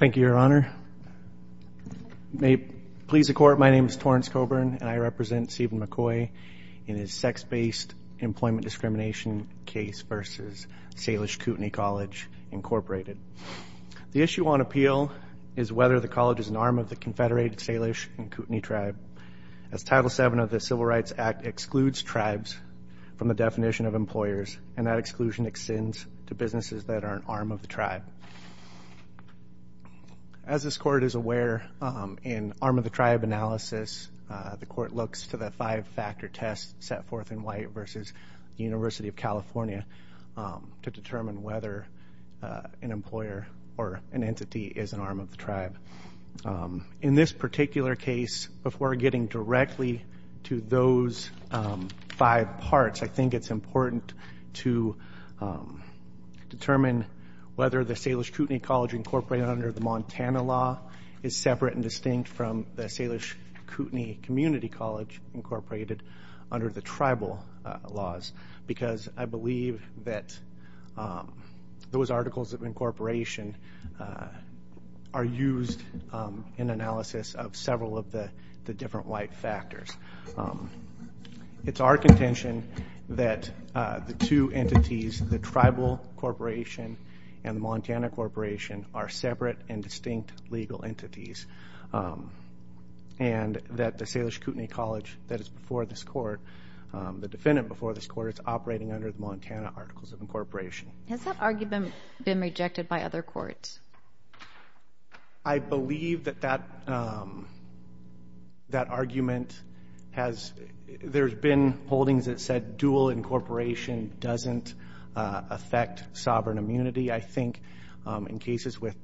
The issue on appeal is whether the college is an arm of the Confederated Salish and Kootenai Tribes, and that exclusion extends to businesses that are an arm of the tribe. As this court is aware, in arm of the tribe analysis, the court looks to the five-factor test set forth in white versus University of California to determine whether an employer or an entity is an arm of the tribe. In this particular case, before getting directly to those five parts, I think it's important to determine whether the Salish Kootenai College, Inc. under the Montana law is separate and distinct from the Salish Kootenai Community College, Inc. under the tribal laws, because I believe that those articles of incorporation are used in analysis of several of the different white factors. It's our contention that the two entities, the tribal corporation and the Montana corporation, are separate and distinct legal entities, and that the Salish Kootenai College that is before this court, the defendant before this court, is operating under the Montana articles of incorporation. Has that argument been rejected by other courts? I believe that that argument has, there's been holdings that said dual incorporation doesn't affect sovereign immunity. I think in cases with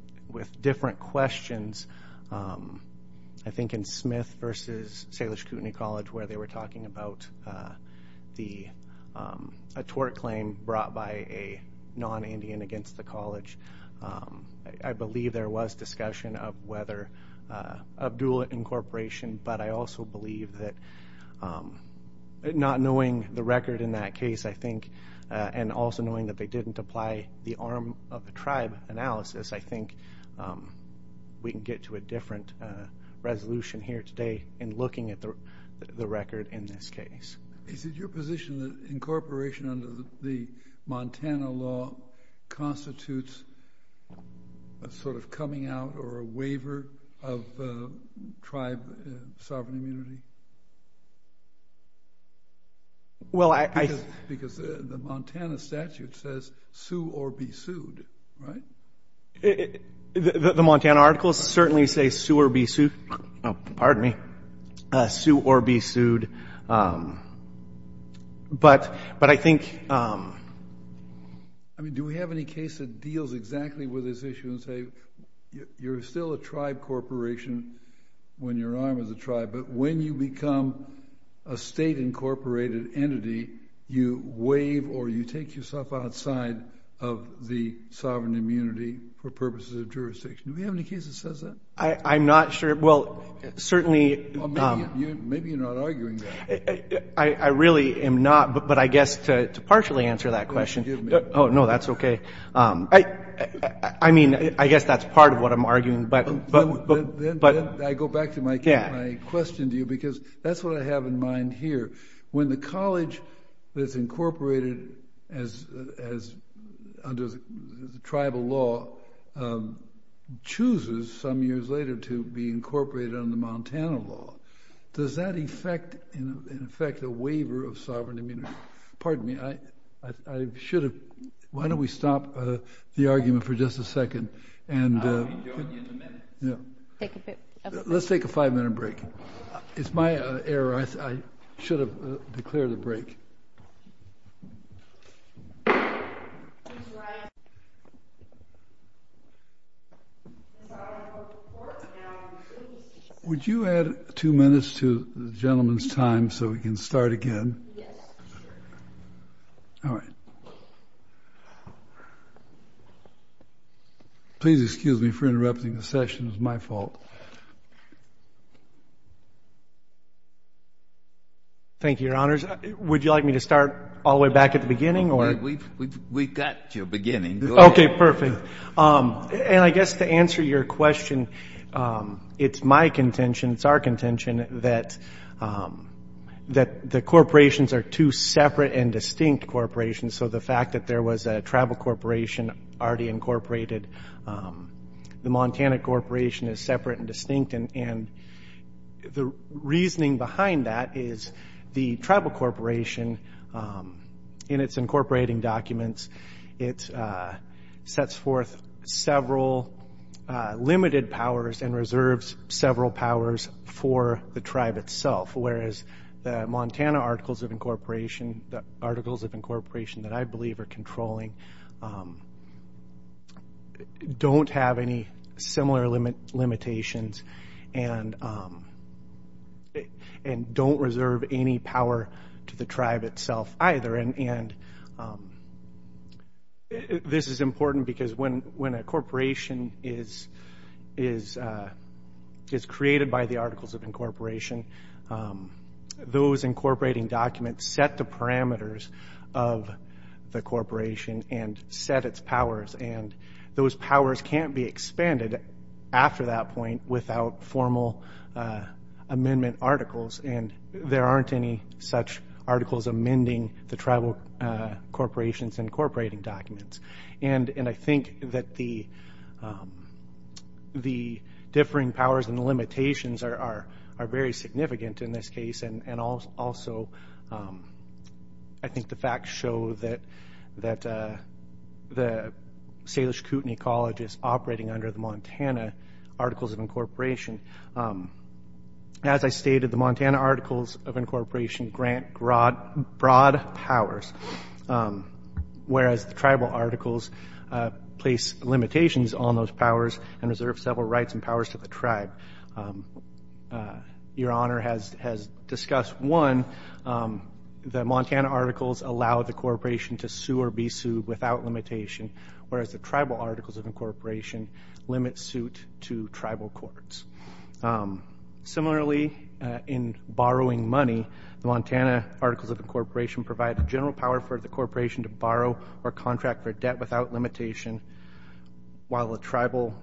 different questions, I think in Smith versus Salish Kootenai College, where they were talking about a tort claim brought by a non-Indian against the college, I believe there was discussion of dual incorporation, but I also believe that not knowing the record in that case, I think, and also knowing that they didn't apply the arm of the tribe analysis, I think we can get to a different resolution here today in looking at the record in this case. Is it your position that incorporation under the Montana law constitutes a sort of coming out or a waiver of tribe sovereign immunity? Because the Montana statute says sue or be sued, right? The Montana articles certainly say sue or be sued, pardon me, sue or be sued, but I think... I mean, do we have any case that deals exactly with this issue and say, you're still a tribe corporation when you're an arm of the tribe, but when you become a state-incorporated entity, you waive or you take yourself outside of the sovereign immunity for purposes of jurisdiction? Do we have any case that says that? I'm not sure. Well, certainly... Well, maybe you're not arguing that. I really am not, but I guess to partially answer that question... Forgive me. Oh, no, that's okay. I mean, I guess that's part of what I'm arguing, but... Then I go back to my question to you because that's what I have in mind here. When the college that's incorporated under the tribal law chooses some years later to be incorporated under the Montana law, does that in effect a waiver of sovereign immunity? Pardon me. I should have... Why don't we stop the argument for just a second and... I'll be joining you in a minute. Let's take a five-minute break. It's my error. I should have declared a break. Would you add two minutes to the gentleman's time so we can start again? Yes, sure. All right. Please excuse me for interrupting the session, it's my fault. Thank you, Your Honors. Would you like me to start all the way back at the beginning or... We've got your beginning, go ahead. Okay, perfect. I guess to answer your question, it's my contention, it's our contention that the corporations are two separate and distinct corporations. The fact that there was a tribal corporation already incorporated, the Montana corporation is separate and distinct. The reasoning behind that is the tribal corporation, in its incorporating documents, it sets forth several limited powers and reserves several powers for the tribe itself, whereas the Montana Articles of Incorporation, the Articles of Incorporation that I believe are controlling, don't have any similar limitations and don't reserve any power to the tribe itself either. And this is important because when a corporation is created by the Articles of Incorporation, those incorporating documents set the parameters of the corporation and set its powers. And those powers can't be expanded after that point without formal amendment articles and there aren't any such articles amending the tribal corporation's incorporating documents. And I think that the differing powers and the limitations are very significant in this case and also I think the facts show that the Salish Kootenai College is operating under the Montana Articles of Incorporation. As I stated, the Montana Articles of Incorporation grant broad powers, whereas the tribal articles place limitations on those powers and reserve several rights and powers to the tribe. Your Honor has discussed one, the Montana Articles allow the corporation to sue or be Similarly, in borrowing money, the Montana Articles of Incorporation provide the general power for the corporation to borrow or contract for debt without limitation, while the tribal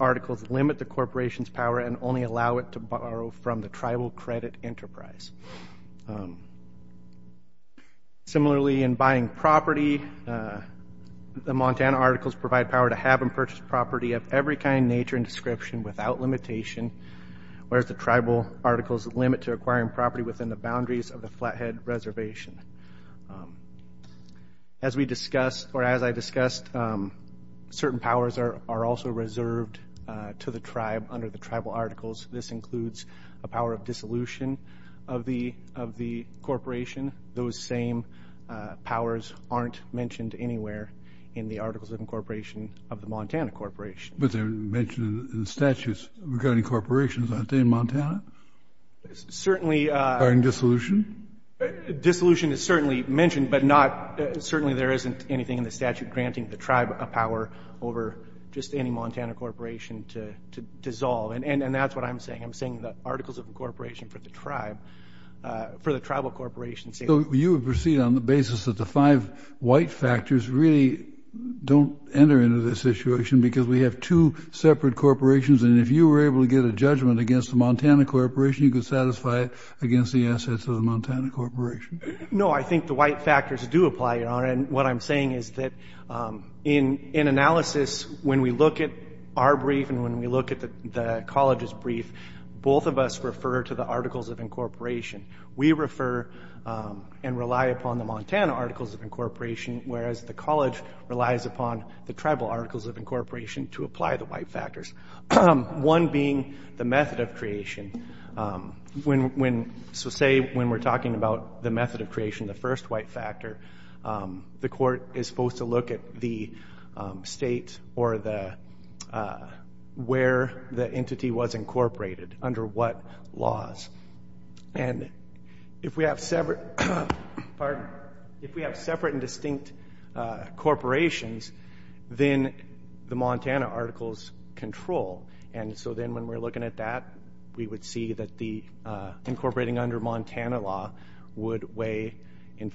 articles limit the corporation's power and only allow it to borrow from the tribal credit enterprise. Similarly, in buying property, the Montana Articles provide power to have and purchase whereas the tribal articles limit to acquiring property within the boundaries of the Flathead Reservation. As we discussed, or as I discussed, certain powers are also reserved to the tribe under the tribal articles. This includes a power of dissolution of the corporation. Those same powers aren't mentioned anywhere in the Articles of Incorporation of the Montana Corporation. But they're mentioned in the statutes regarding corporations, aren't they, in Montana? Certainly. Regarding dissolution? Dissolution is certainly mentioned, but not, certainly there isn't anything in the statute granting the tribe a power over just any Montana corporation to dissolve. And that's what I'm saying. I'm saying the Articles of Incorporation for the tribe, for the tribal corporations. So you would proceed on the basis that the five white factors really don't enter into this situation because we have two separate corporations and if you were able to get a judgment against the Montana Corporation, you could satisfy it against the assets of the Montana Corporation. No, I think the white factors do apply, Your Honor, and what I'm saying is that in analysis, when we look at our brief and when we look at the college's brief, both of us refer to the Articles of Incorporation. We refer and rely upon the Montana Articles of Incorporation, whereas the college relies upon the tribal Articles of Incorporation to apply the white factors, one being the method of creation. So say when we're talking about the method of creation, the first white factor, the court is supposed to look at the state or where the entity was incorporated, under what laws. And if we have separate and distinct corporations, then the Montana Articles control. And so then when we're looking at that, we would see that the incorporating under Montana law would weigh in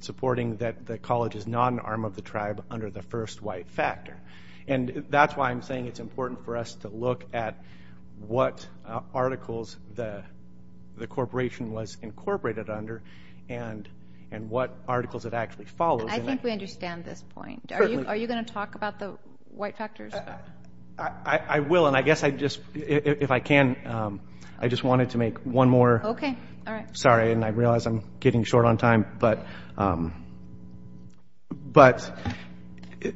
supporting that the college is not an arm of the tribe under the first white factor. And that's why I'm saying it's important for us to look at what articles the corporation was incorporated under and what articles it actually follows. And I think we understand this point. Are you going to talk about the white factors? I will. And I guess I just, if I can, I just wanted to make one more. Okay. All right. I'm sorry. And I realize I'm getting short on time. But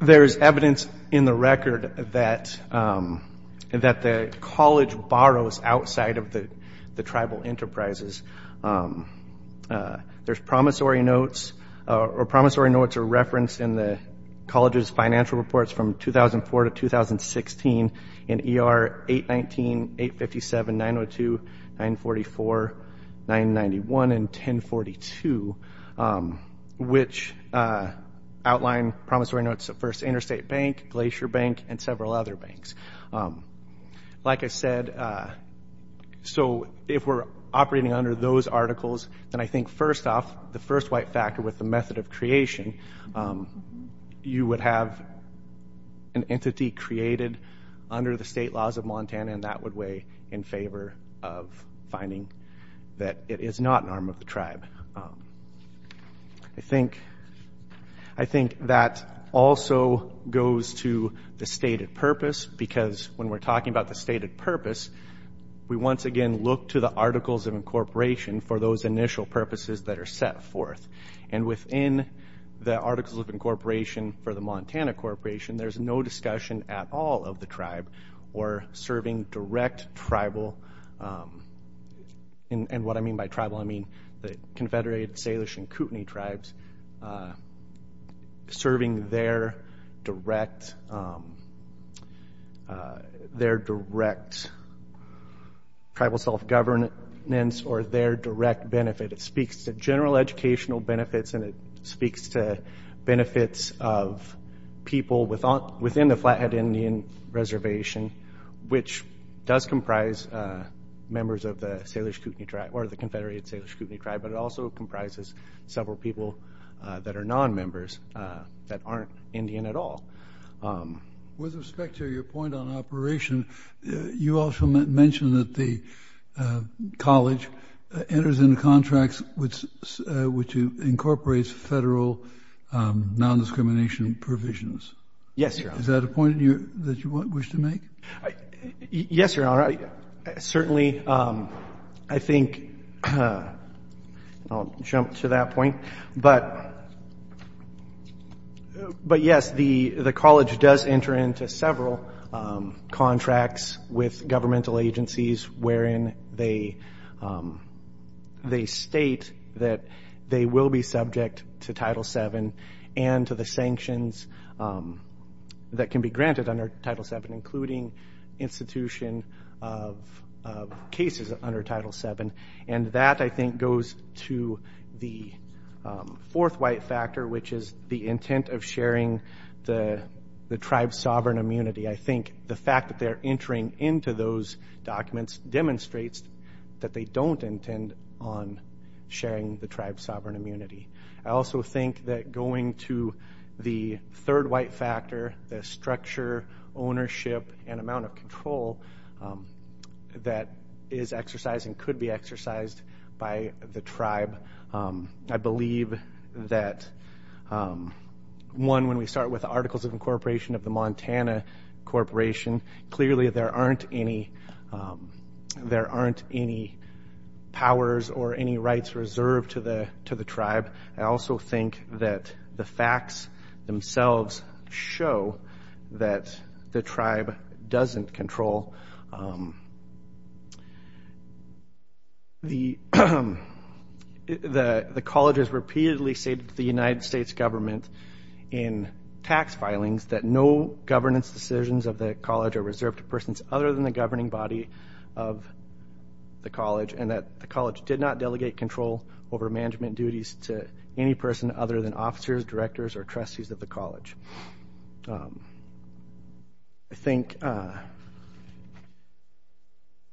there is evidence in the record that the college borrows outside of the tribal enterprises. There's promissory notes, or promissory notes are referenced in the college's financial reports from 2004 to 2016 in ER 819, 857, 902, 944, 991, and 1042, which outline promissory notes of First Interstate Bank, Glacier Bank, and several other banks. Like I said, so if we're operating under those articles, then I think first off, the first white factor with the method of creation, you would have an entity created under the state laws of Montana, and that would weigh in favor of finding that it is not an arm of the tribe. I think that also goes to the stated purpose, because when we're talking about the stated purpose, we once again look to the articles of incorporation for those initial purposes that are set forth. And within the articles of incorporation for the Montana Corporation, there's no discussion at all of the tribe or serving direct tribal, and what I mean by tribal, I mean the Confederated Salish and Kootenai tribes, serving their direct tribal self-governance or their direct benefit. It speaks to general educational benefits, and it speaks to benefits of people within the Flathead Indian Reservation, which does comprise members of the Confederated Salish and Kootenai tribe, but it also comprises several people that are non-members that aren't Indian at all. With respect to your point on operation, you also mentioned that the college enters into contracts which incorporates federal non-discrimination provisions. Yes, Your Honor. Is that a point that you wish to make? Yes, Your Honor. Certainly, I think I'll jump to that point. But yes, the college does enter into several contracts with governmental agencies wherein they state that they will be subject to Title VII and to the sanctions that can be granted under Title VII, including institution of cases under Title VII. And that, I think, goes to the fourth white factor, which is the intent of sharing the tribe's sovereign immunity. I think the fact that they're entering into those documents demonstrates that they don't intend on sharing the tribe's sovereign immunity. I also think that going to the third white factor, the structure, ownership, and amount of control that is exercised and could be exercised by the tribe, I believe that, one, when we start with the Articles of Incorporation of the Montana Corporation, clearly there aren't any powers or any rights reserved to the tribe. I also think that the facts themselves show that the tribe doesn't control. The college has repeatedly stated to the United States government in tax filings that no governance decisions of the college are reserved to persons other than the governing body of the college and that the college did not delegate control over management duties to any person other than officers, directors, or trustees of the college. I think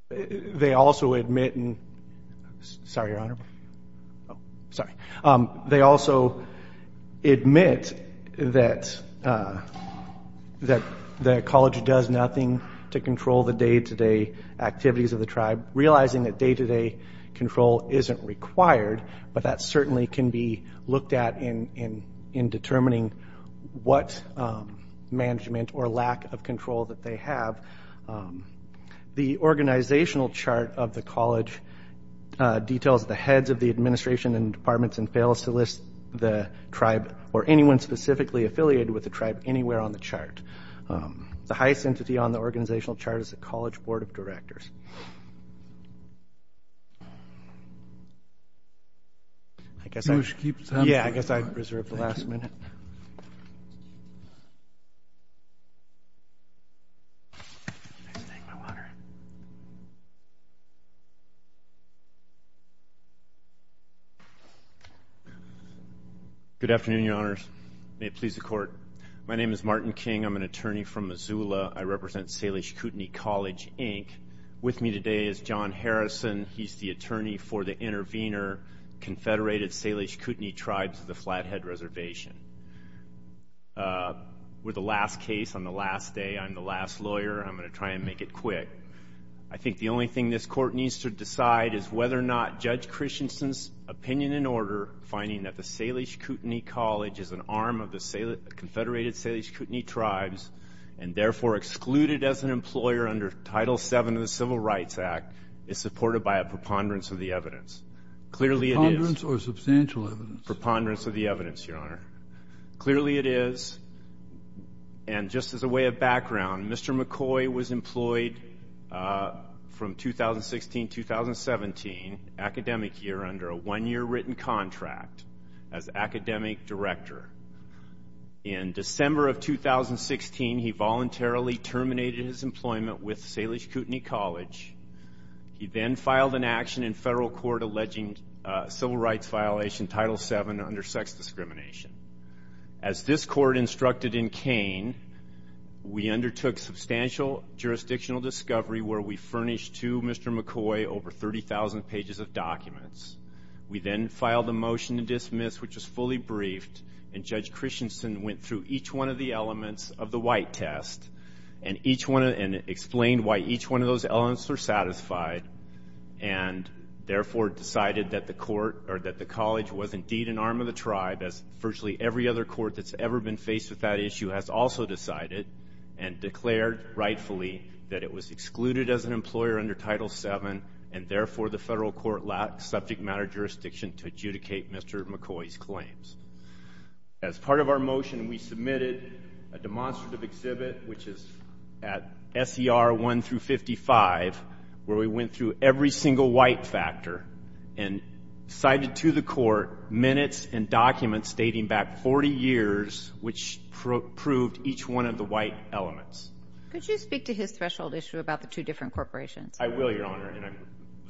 they also admit that the college does nothing to control the day-to-day activities of the tribe, realizing that day-to-day control isn't required, but that certainly can be in determining what management or lack of control that they have. The organizational chart of the college details the heads of the administration and departments and fails to list the tribe or anyone specifically affiliated with the tribe anywhere on the chart. The highest entity on the organizational chart is the college board of directors. I guess I reserved the last minute. I'm going to take my water. Good afternoon, Your Honors. May it please the Court. My name is Martin King. I'm an attorney from Missoula. I represent Salish Kootenai College, Inc. With me today is John Harrison. He's the attorney for the Intervenor Confederated Salish Kootenai Tribes of the Flathead Reservation. We're the last case on the last day. I'm the last lawyer. I'm going to try and make it quick. I think the only thing this Court needs to decide is whether or not Judge Christensen's opinion and order finding that the Salish Kootenai College is an arm of the Confederated Salish Kootenai Tribes and therefore excluded as an employer under Title VII of the Civil Rights Act is supported by a preponderance of the evidence. Clearly it is. Preponderance or substantial evidence? Preponderance of the evidence, Your Honor. Clearly it is. And just as a way of background, Mr. McCoy was employed from 2016-2017, academic year, under a one-year written contract as academic director. In December of 2016, he voluntarily terminated his employment with Salish Kootenai College. He then filed an action in federal court alleging civil rights violation, Title VII, under sex discrimination. As this Court instructed in Kane, we undertook substantial jurisdictional discovery where we furnished to Mr. McCoy We then filed a motion to dismiss, which was fully briefed, and Judge Christensen went through each one of the elements of the white test and explained why each one of those elements were satisfied and therefore decided that the college was indeed an arm of the tribe, as virtually every other court that's ever been faced with that issue has also decided and declared rightfully that it was excluded as an employer under Title VII and therefore the federal court lacked subject matter jurisdiction to adjudicate Mr. McCoy's claims. As part of our motion, we submitted a demonstrative exhibit, which is at SER 1 through 55, where we went through every single white factor and cited to the court minutes and documents dating back 40 years, which proved each one of the white elements. Could you speak to his threshold issue about the two different corporations? I will, Your Honor, and I'm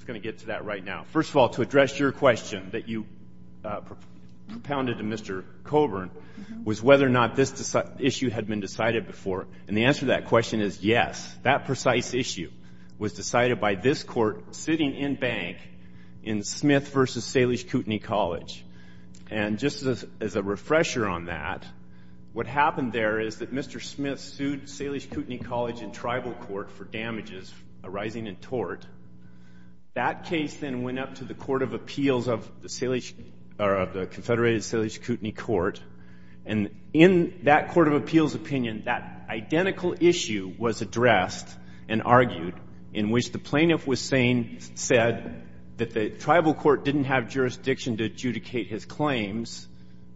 going to get to that right now. First of all, to address your question that you propounded to Mr. Coburn was whether or not this issue had been decided before, and the answer to that question is yes. That precise issue was decided by this Court sitting in bank in Smith v. Salish Kootenai College. And just as a refresher on that, what happened there is that Mr. Smith sued Salish Kootenai College and tribal court for damages arising in tort. That case then went up to the Court of Appeals of the Confederated Salish Kootenai Court, and in that Court of Appeals opinion, that identical issue was addressed and argued, in which the plaintiff said that the tribal court didn't have jurisdiction to adjudicate his claims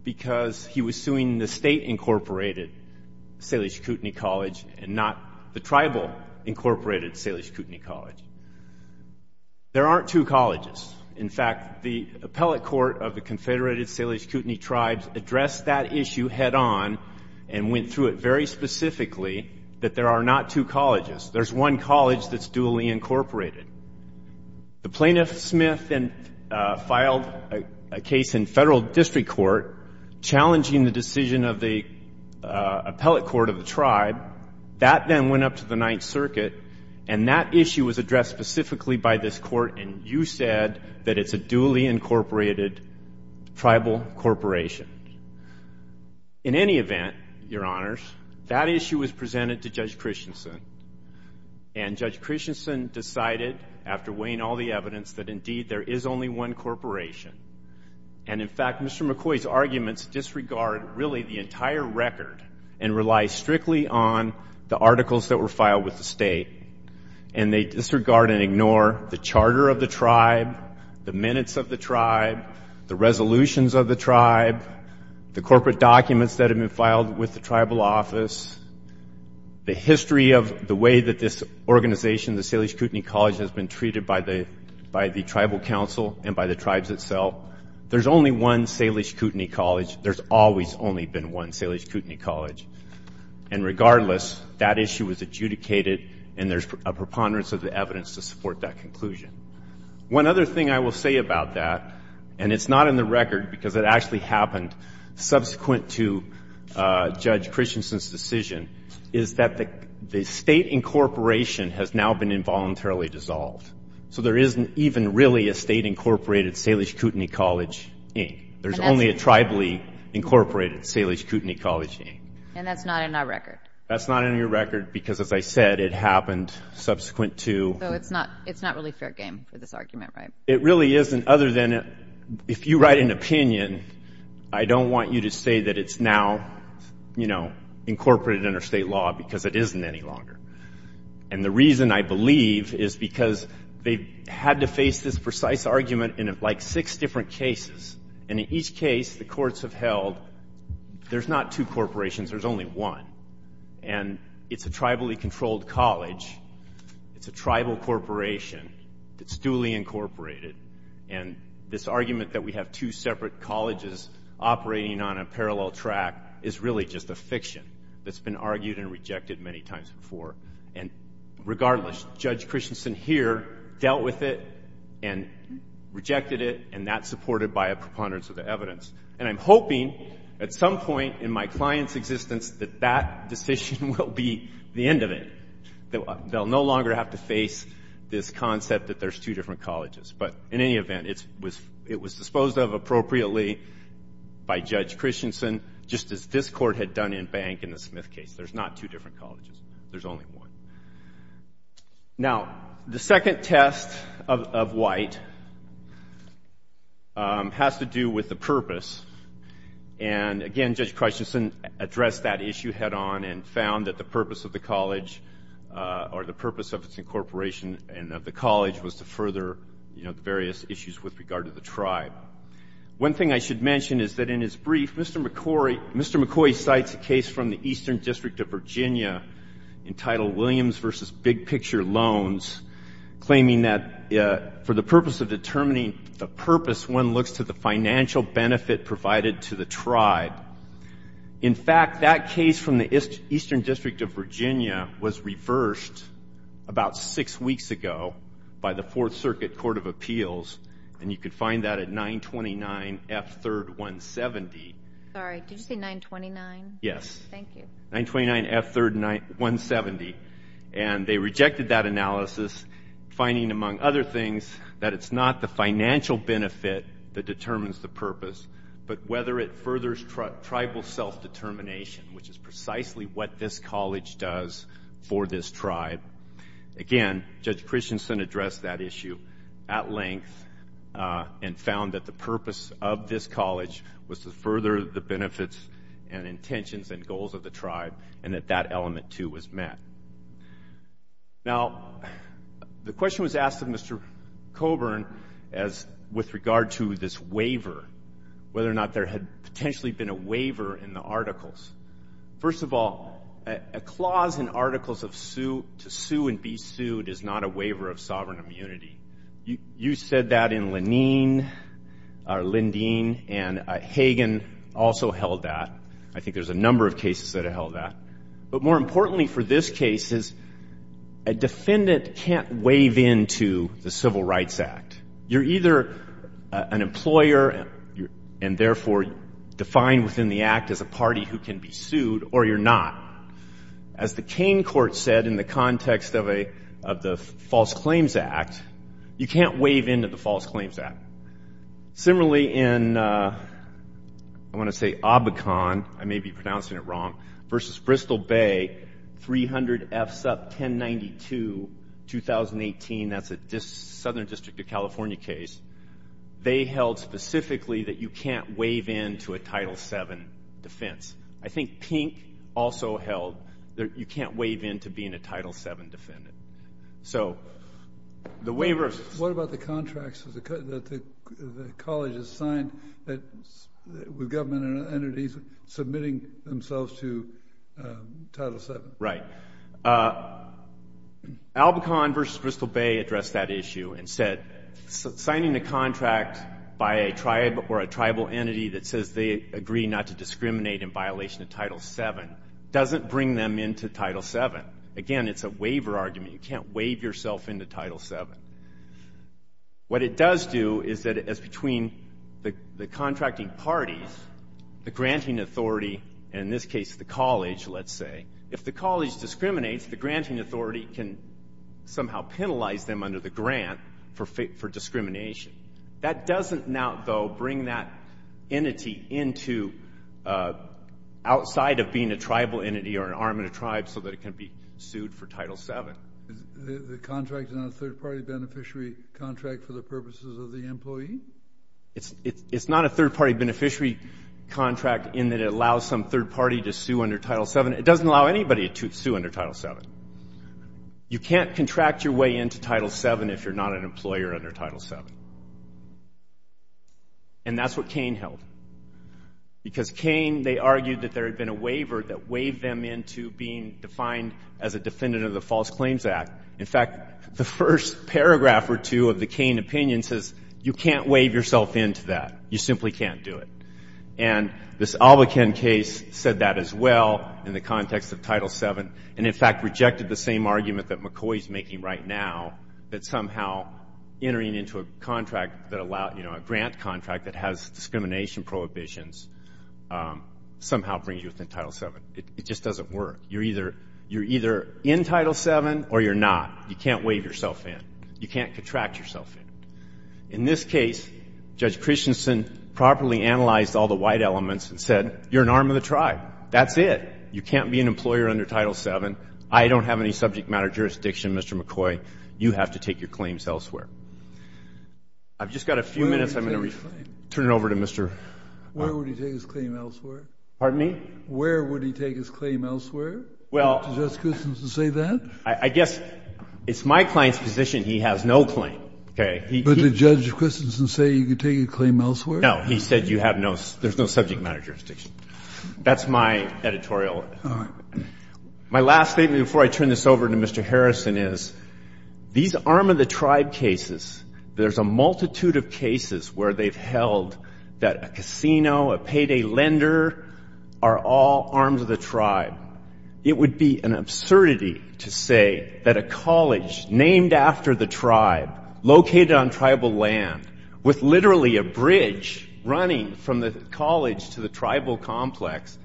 because he was suing the state-incorporated Salish Kootenai College and not the tribal-incorporated Salish Kootenai College. There aren't two colleges. In fact, the appellate court of the Confederated Salish Kootenai Tribes addressed that issue head on and went through it very specifically that there are not two colleges. There's one college that's duly incorporated. The plaintiff, Smith, then filed a case in Federal District Court challenging the decision of the appellate court of the tribe. That then went up to the Ninth Circuit, and that issue was addressed specifically by this Court, and you said that it's a duly incorporated tribal corporation. In any event, Your Honors, that issue was presented to Judge Christensen, and Judge Christensen decided, after weighing all the evidence, that indeed there is only one corporation. And in fact, Mr. McCoy's arguments disregard really the entire record and rely strictly on the articles that were filed with the state, and they disregard and ignore the charter of the tribe, the minutes of the tribe, the resolutions of the tribe, the corporate documents that have been filed with the tribal office, the history of the way that this organization, the Salish Kootenai College, has been treated by the tribal council and by the tribes itself. There's only one Salish Kootenai College. There's always only been one Salish Kootenai College. And regardless, that issue was adjudicated, and there's a preponderance of the evidence to support that conclusion. One other thing I will say about that, and it's not in the record because it actually happened subsequent to Judge Christensen's decision, is that the state incorporation has now been involuntarily dissolved. So there isn't even really a state incorporated Salish Kootenai College, Inc. There's only a tribally incorporated Salish Kootenai College, Inc. And that's not in our record. That's not in your record because, as I said, it happened subsequent to. So it's not really fair game for this argument, right? It really isn't, other than if you write an opinion, I don't want you to say that it's now, you know, incorporated under state law because it isn't any longer. And the reason, I believe, is because they had to face this precise argument in like six different cases. And in each case, the courts have held there's not two corporations, there's only one. And it's a tribally controlled college. It's a tribal corporation that's duly incorporated. And this argument that we have two separate colleges operating on a parallel track is really just a fiction that's been argued and rejected many times before. And regardless, Judge Christensen here dealt with it and rejected it, and that's supported by a preponderance of the evidence. And I'm hoping at some point in my client's existence that that decision will be the end of it, that they'll no longer have to face this concept that there's two different colleges. But in any event, it was disposed of appropriately by Judge Christensen, just as this Court had done in Bank in the Smith case. There's not two different colleges. There's only one. Now, the second test of White has to do with the purpose. And again, Judge Christensen addressed that issue head on and found that the purpose of the college or the purpose of its incorporation and of the college was to further, you know, the various issues with regard to the tribe. One thing I should mention is that in his brief, Mr. McCoy cites a case from the Eastern District of Virginia entitled Williams v. Big Picture Loans, claiming that for the purpose of determining the purpose, one looks to the financial benefit provided to the tribe. In fact, that case from the Eastern District of Virginia was reversed about six weeks ago by the Fourth Circuit Court of Appeals, and you could find that at 929F3-170. Sorry, did you say 929? Yes. Thank you. 929F3-170. And they rejected that analysis, finding, among other things, that it's not the financial benefit that determines the purpose, but whether it furthers tribal self-determination, which is precisely what this college does for this tribe. Again, Judge Christensen addressed that issue at length and found that the purpose of this college was to further the benefits and intentions and goals of the tribe, and that that element, too, was met. Now, the question was asked of Mr. Coburn as with regard to this waiver, whether or not there had potentially been a waiver in the articles. First of all, a clause in articles to sue and be sued is not a waiver of sovereign immunity. You said that in Lanine or Lindeen, and Hagen also held that. I think there's a number of cases that have held that. But more importantly for this case is a defendant can't waive into the Civil Rights Act. You're either an employer and, therefore, defined within the act as a party who can be sued, or you're not. As the Kane court said in the context of the False Claims Act, you can't waive into the False Claims Act. Similarly, in, I want to say, Obacon, I may be pronouncing it wrong, versus Bristol Bay, 300 F-1092-2018. That's a Southern District of California case. They held specifically that you can't waive into a Title VII defense. I think Pink also held that you can't waive into being a Title VII defendant. So the waiver of- What about the contracts that the college has signed with government entities submitting themselves to Title VII? Right. Obacon versus Bristol Bay addressed that issue and said signing a contract by a tribe or a tribal entity that says they agree not to discriminate in violation of Title VII doesn't bring them into Title VII. Again, it's a waiver argument. You can't waive yourself into Title VII. What it does do is that between the contracting parties, the granting authority, and in this case the college, let's say, if the college discriminates, the granting authority can somehow penalize them under the grant for discrimination. That doesn't now, though, bring that entity into outside of being a tribal entity or an arm of the tribe so that it can be sued for Title VII. The contract is not a third-party beneficiary contract for the purposes of the employee? It's not a third-party beneficiary contract in that it allows some third party to sue under Title VII. It doesn't allow anybody to sue under Title VII. You can't contract your way into Title VII if you're not an employer under Title VII. And that's what Cain held. Because Cain, they argued that there had been a waiver that waived them into being defined as a defendant of the False Claims Act. In fact, the first paragraph or two of the Cain opinion says you can't waive yourself into that. You simply can't do it. And this Albuquen case said that as well in the context of Title VII and, in fact, rejected the same argument that McCoy is making right now, that somehow entering into a contract that allowed, you know, a grant contract that has discrimination prohibitions somehow brings you within Title VII. It just doesn't work. You're either in Title VII or you're not. You can't waive yourself in. You can't contract yourself in. In this case, Judge Christensen properly analyzed all the white elements and said, you're an arm of the tribe. That's it. You can't be an employer under Title VII. I don't have any subject matter jurisdiction, Mr. McCoy. You have to take your claims elsewhere. I've just got a few minutes. I'm going to turn it over to Mr. Hunt. Where would he take his claim elsewhere? Pardon me? Where would he take his claim elsewhere? Well, I guess it's my client's position he has no claim. Okay. But did Judge Christensen say you could take a claim elsewhere? No. He said you have no ‑‑ there's no subject matter jurisdiction. That's my editorial. All right. My last statement before I turn this over to Mr. Harrison is these arm of the tribe cases, there's a multitude of cases where they've held that a casino, a payday lender are all arms of the tribe. It would be an absurdity to say that a college named after the tribe located on tribal land with literally a bridge running from the college to the tribal complex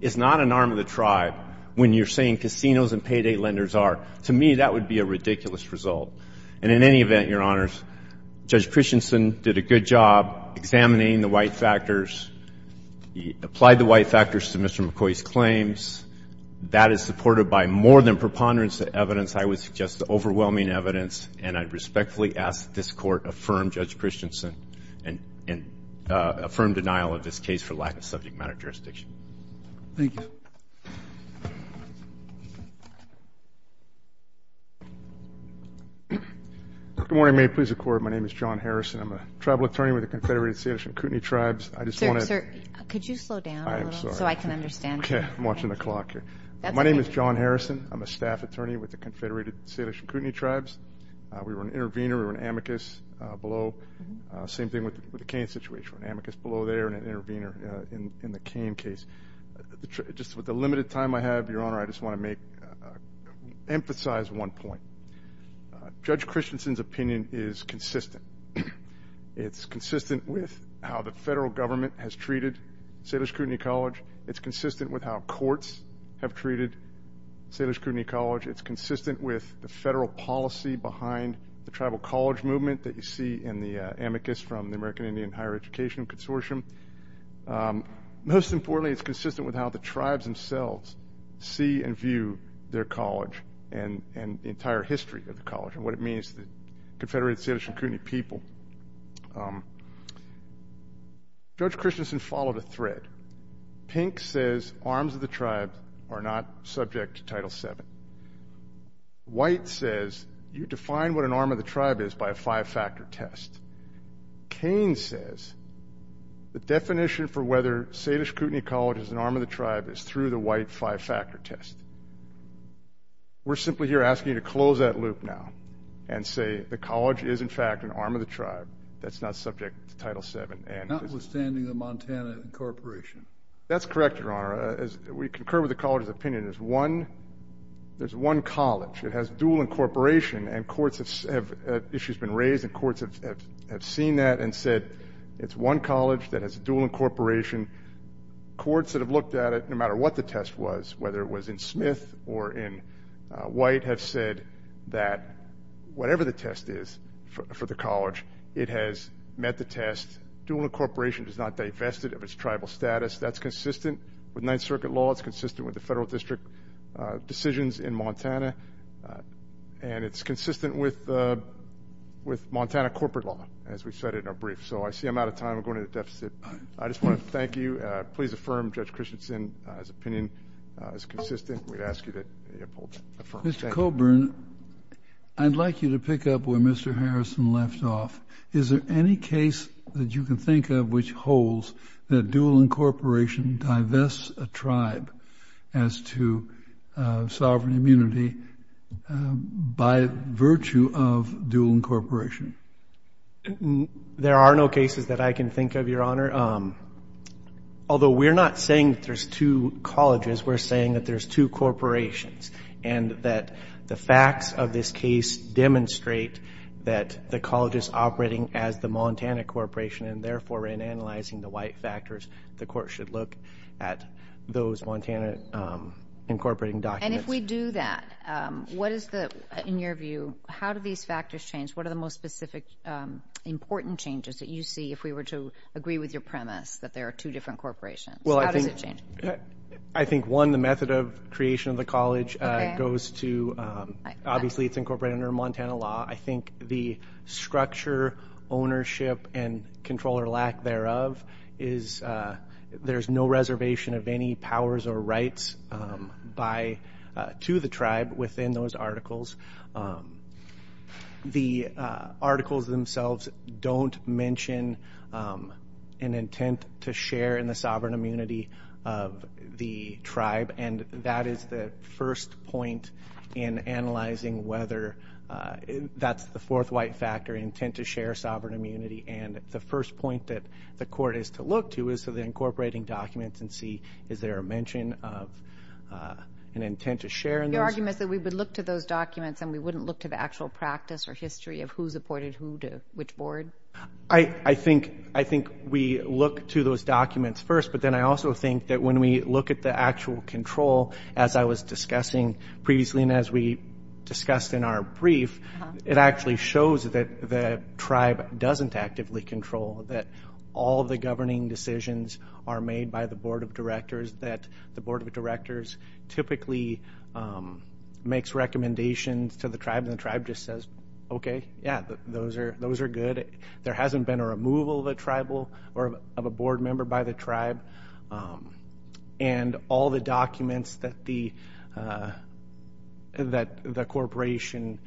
is not an arm of the tribe when you're saying casinos and payday lenders are. To me, that would be a ridiculous result. And in any event, Your Honors, Judge Christensen did a good job examining the white factors. He applied the white factors to Mr. McCoy's claims. That is supported by more than preponderance of evidence. I would suggest overwhelming evidence, and I respectfully ask that this Court affirm Judge Christensen and affirm denial of this case for lack of subject matter jurisdiction. Thank you. Good morning. May it please the Court. My name is John Harrison. I'm a tribal attorney with the Confederated Salish and Kootenai Tribes. I just want to – Sir, could you slow down a little so I can understand? Okay. I'm watching the clock here. My name is John Harrison. I'm a staff attorney with the Confederated Salish and Kootenai Tribes. We were an intervener. We were an amicus below. Same thing with the Kane situation. We were an amicus below there and an intervener in the Kane case. Just with the limited time I have, Your Honor, I just want to emphasize one point. Judge Christensen's opinion is consistent. It's consistent with how the federal government has treated Salish and Kootenai College. It's consistent with how courts have treated Salish and Kootenai College. It's consistent with the federal policy behind the tribal college movement that you see in the amicus from the American Indian Higher Education Consortium. Most importantly, it's consistent with how the tribes themselves see and view their college and the entire history of the college and what it means to the Confederated Salish and Kootenai people. Judge Christensen followed a thread. Pink says arms of the tribe are not subject to Title VII. White says you define what an arm of the tribe is by a five-factor test. Kane says the definition for whether Salish and Kootenai College is an arm of the tribe is through the white five-factor test. We're simply here asking you to close that loop now and say the college is, in fact, an arm of the tribe. That's not subject to Title VII. Notwithstanding the Montana incorporation. That's correct, Your Honor. We concur with the college's opinion. There's one college. It has dual incorporation, and issues have been raised, and courts have seen that and said it's one college that has dual incorporation. Courts that have looked at it, no matter what the test was, whether it was in Smith or in White, have said that whatever the test is for the college, it has met the test. Dual incorporation does not divest it of its tribal status. That's consistent with Ninth Circuit law. It's consistent with the federal district decisions in Montana, and it's consistent with Montana corporate law, as we said in our brief. So I see I'm out of time. I'm going to the deficit. I just want to thank you. Please affirm Judge Christensen's opinion. It's consistent. We'd ask you to affirm. Mr. Coburn, I'd like you to pick up where Mr. Harrison left off. Is there any case that you can think of which holds that dual incorporation divests a tribe as to sovereign immunity by virtue of dual incorporation? There are no cases that I can think of, Your Honor. Although we're not saying that there's two colleges, we're saying that there's two corporations and that the facts of this case demonstrate that the college is operating as the Montana Corporation, and therefore, in analyzing the white factors, the court should look at those Montana incorporating documents. And if we do that, what is the, in your view, how do these factors change? What are the most specific important changes that you see, if we were to agree with your premise that there are two different corporations? How does it change? I think, one, the method of creation of the college goes to, obviously it's incorporated under Montana law. I think the structure, ownership, and control or lack thereof is, there's no reservation of any powers or rights to the tribe within those articles. The articles themselves don't mention an intent to share in the sovereign immunity of the tribe, and that is the first point in analyzing whether that's the fourth white factor, intent to share sovereign immunity. And the first point that the court is to look to is to the incorporating documents and see is there a mention of an intent to share in those. Your argument is that we would look to those documents and we wouldn't look to the actual practice or history of who supported who to which board? I think we look to those documents first, but then I also think that when we look at the actual control, as I was discussing previously and as we discussed in our brief, it actually shows that the tribe doesn't actively control, that all the governing decisions are made by the board of directors, that the board of directors typically makes recommendations to the tribe and the tribe just says, okay, yeah, those are good. There hasn't been a removal of a tribal or of a board member by the tribe. And all the documents that the corporation,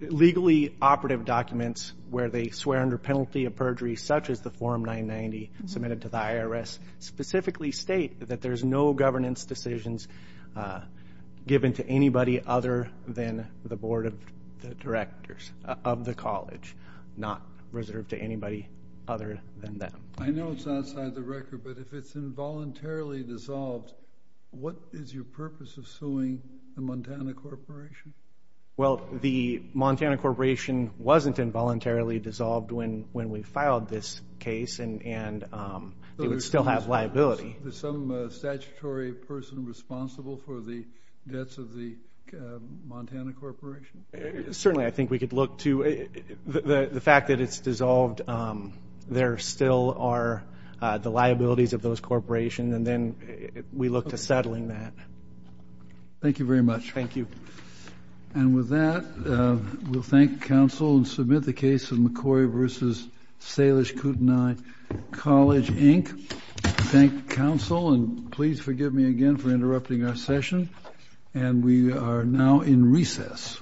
legally operative documents where they swear under penalty of perjury, such as the Form 990 submitted to the IRS, specifically state that there's no governance decisions given to anybody other than the board of directors of the college, not reserved to anybody other than them. I know it's outside the record, but if it's involuntarily dissolved, what is your purpose of suing the Montana Corporation? Well, the Montana Corporation wasn't involuntarily dissolved when we filed this case and it would still have liability. Is some statutory person responsible for the debts of the Montana Corporation? Certainly. I think we could look to the fact that it's dissolved. There still are the liabilities of those corporations, and then we look to settling that. Thank you very much. Thank you. And with that, we'll thank counsel and submit the case of McCoy v. Salish Kootenai College, Inc. Thank counsel, and please forgive me again for interrupting our session. And we are now in recess.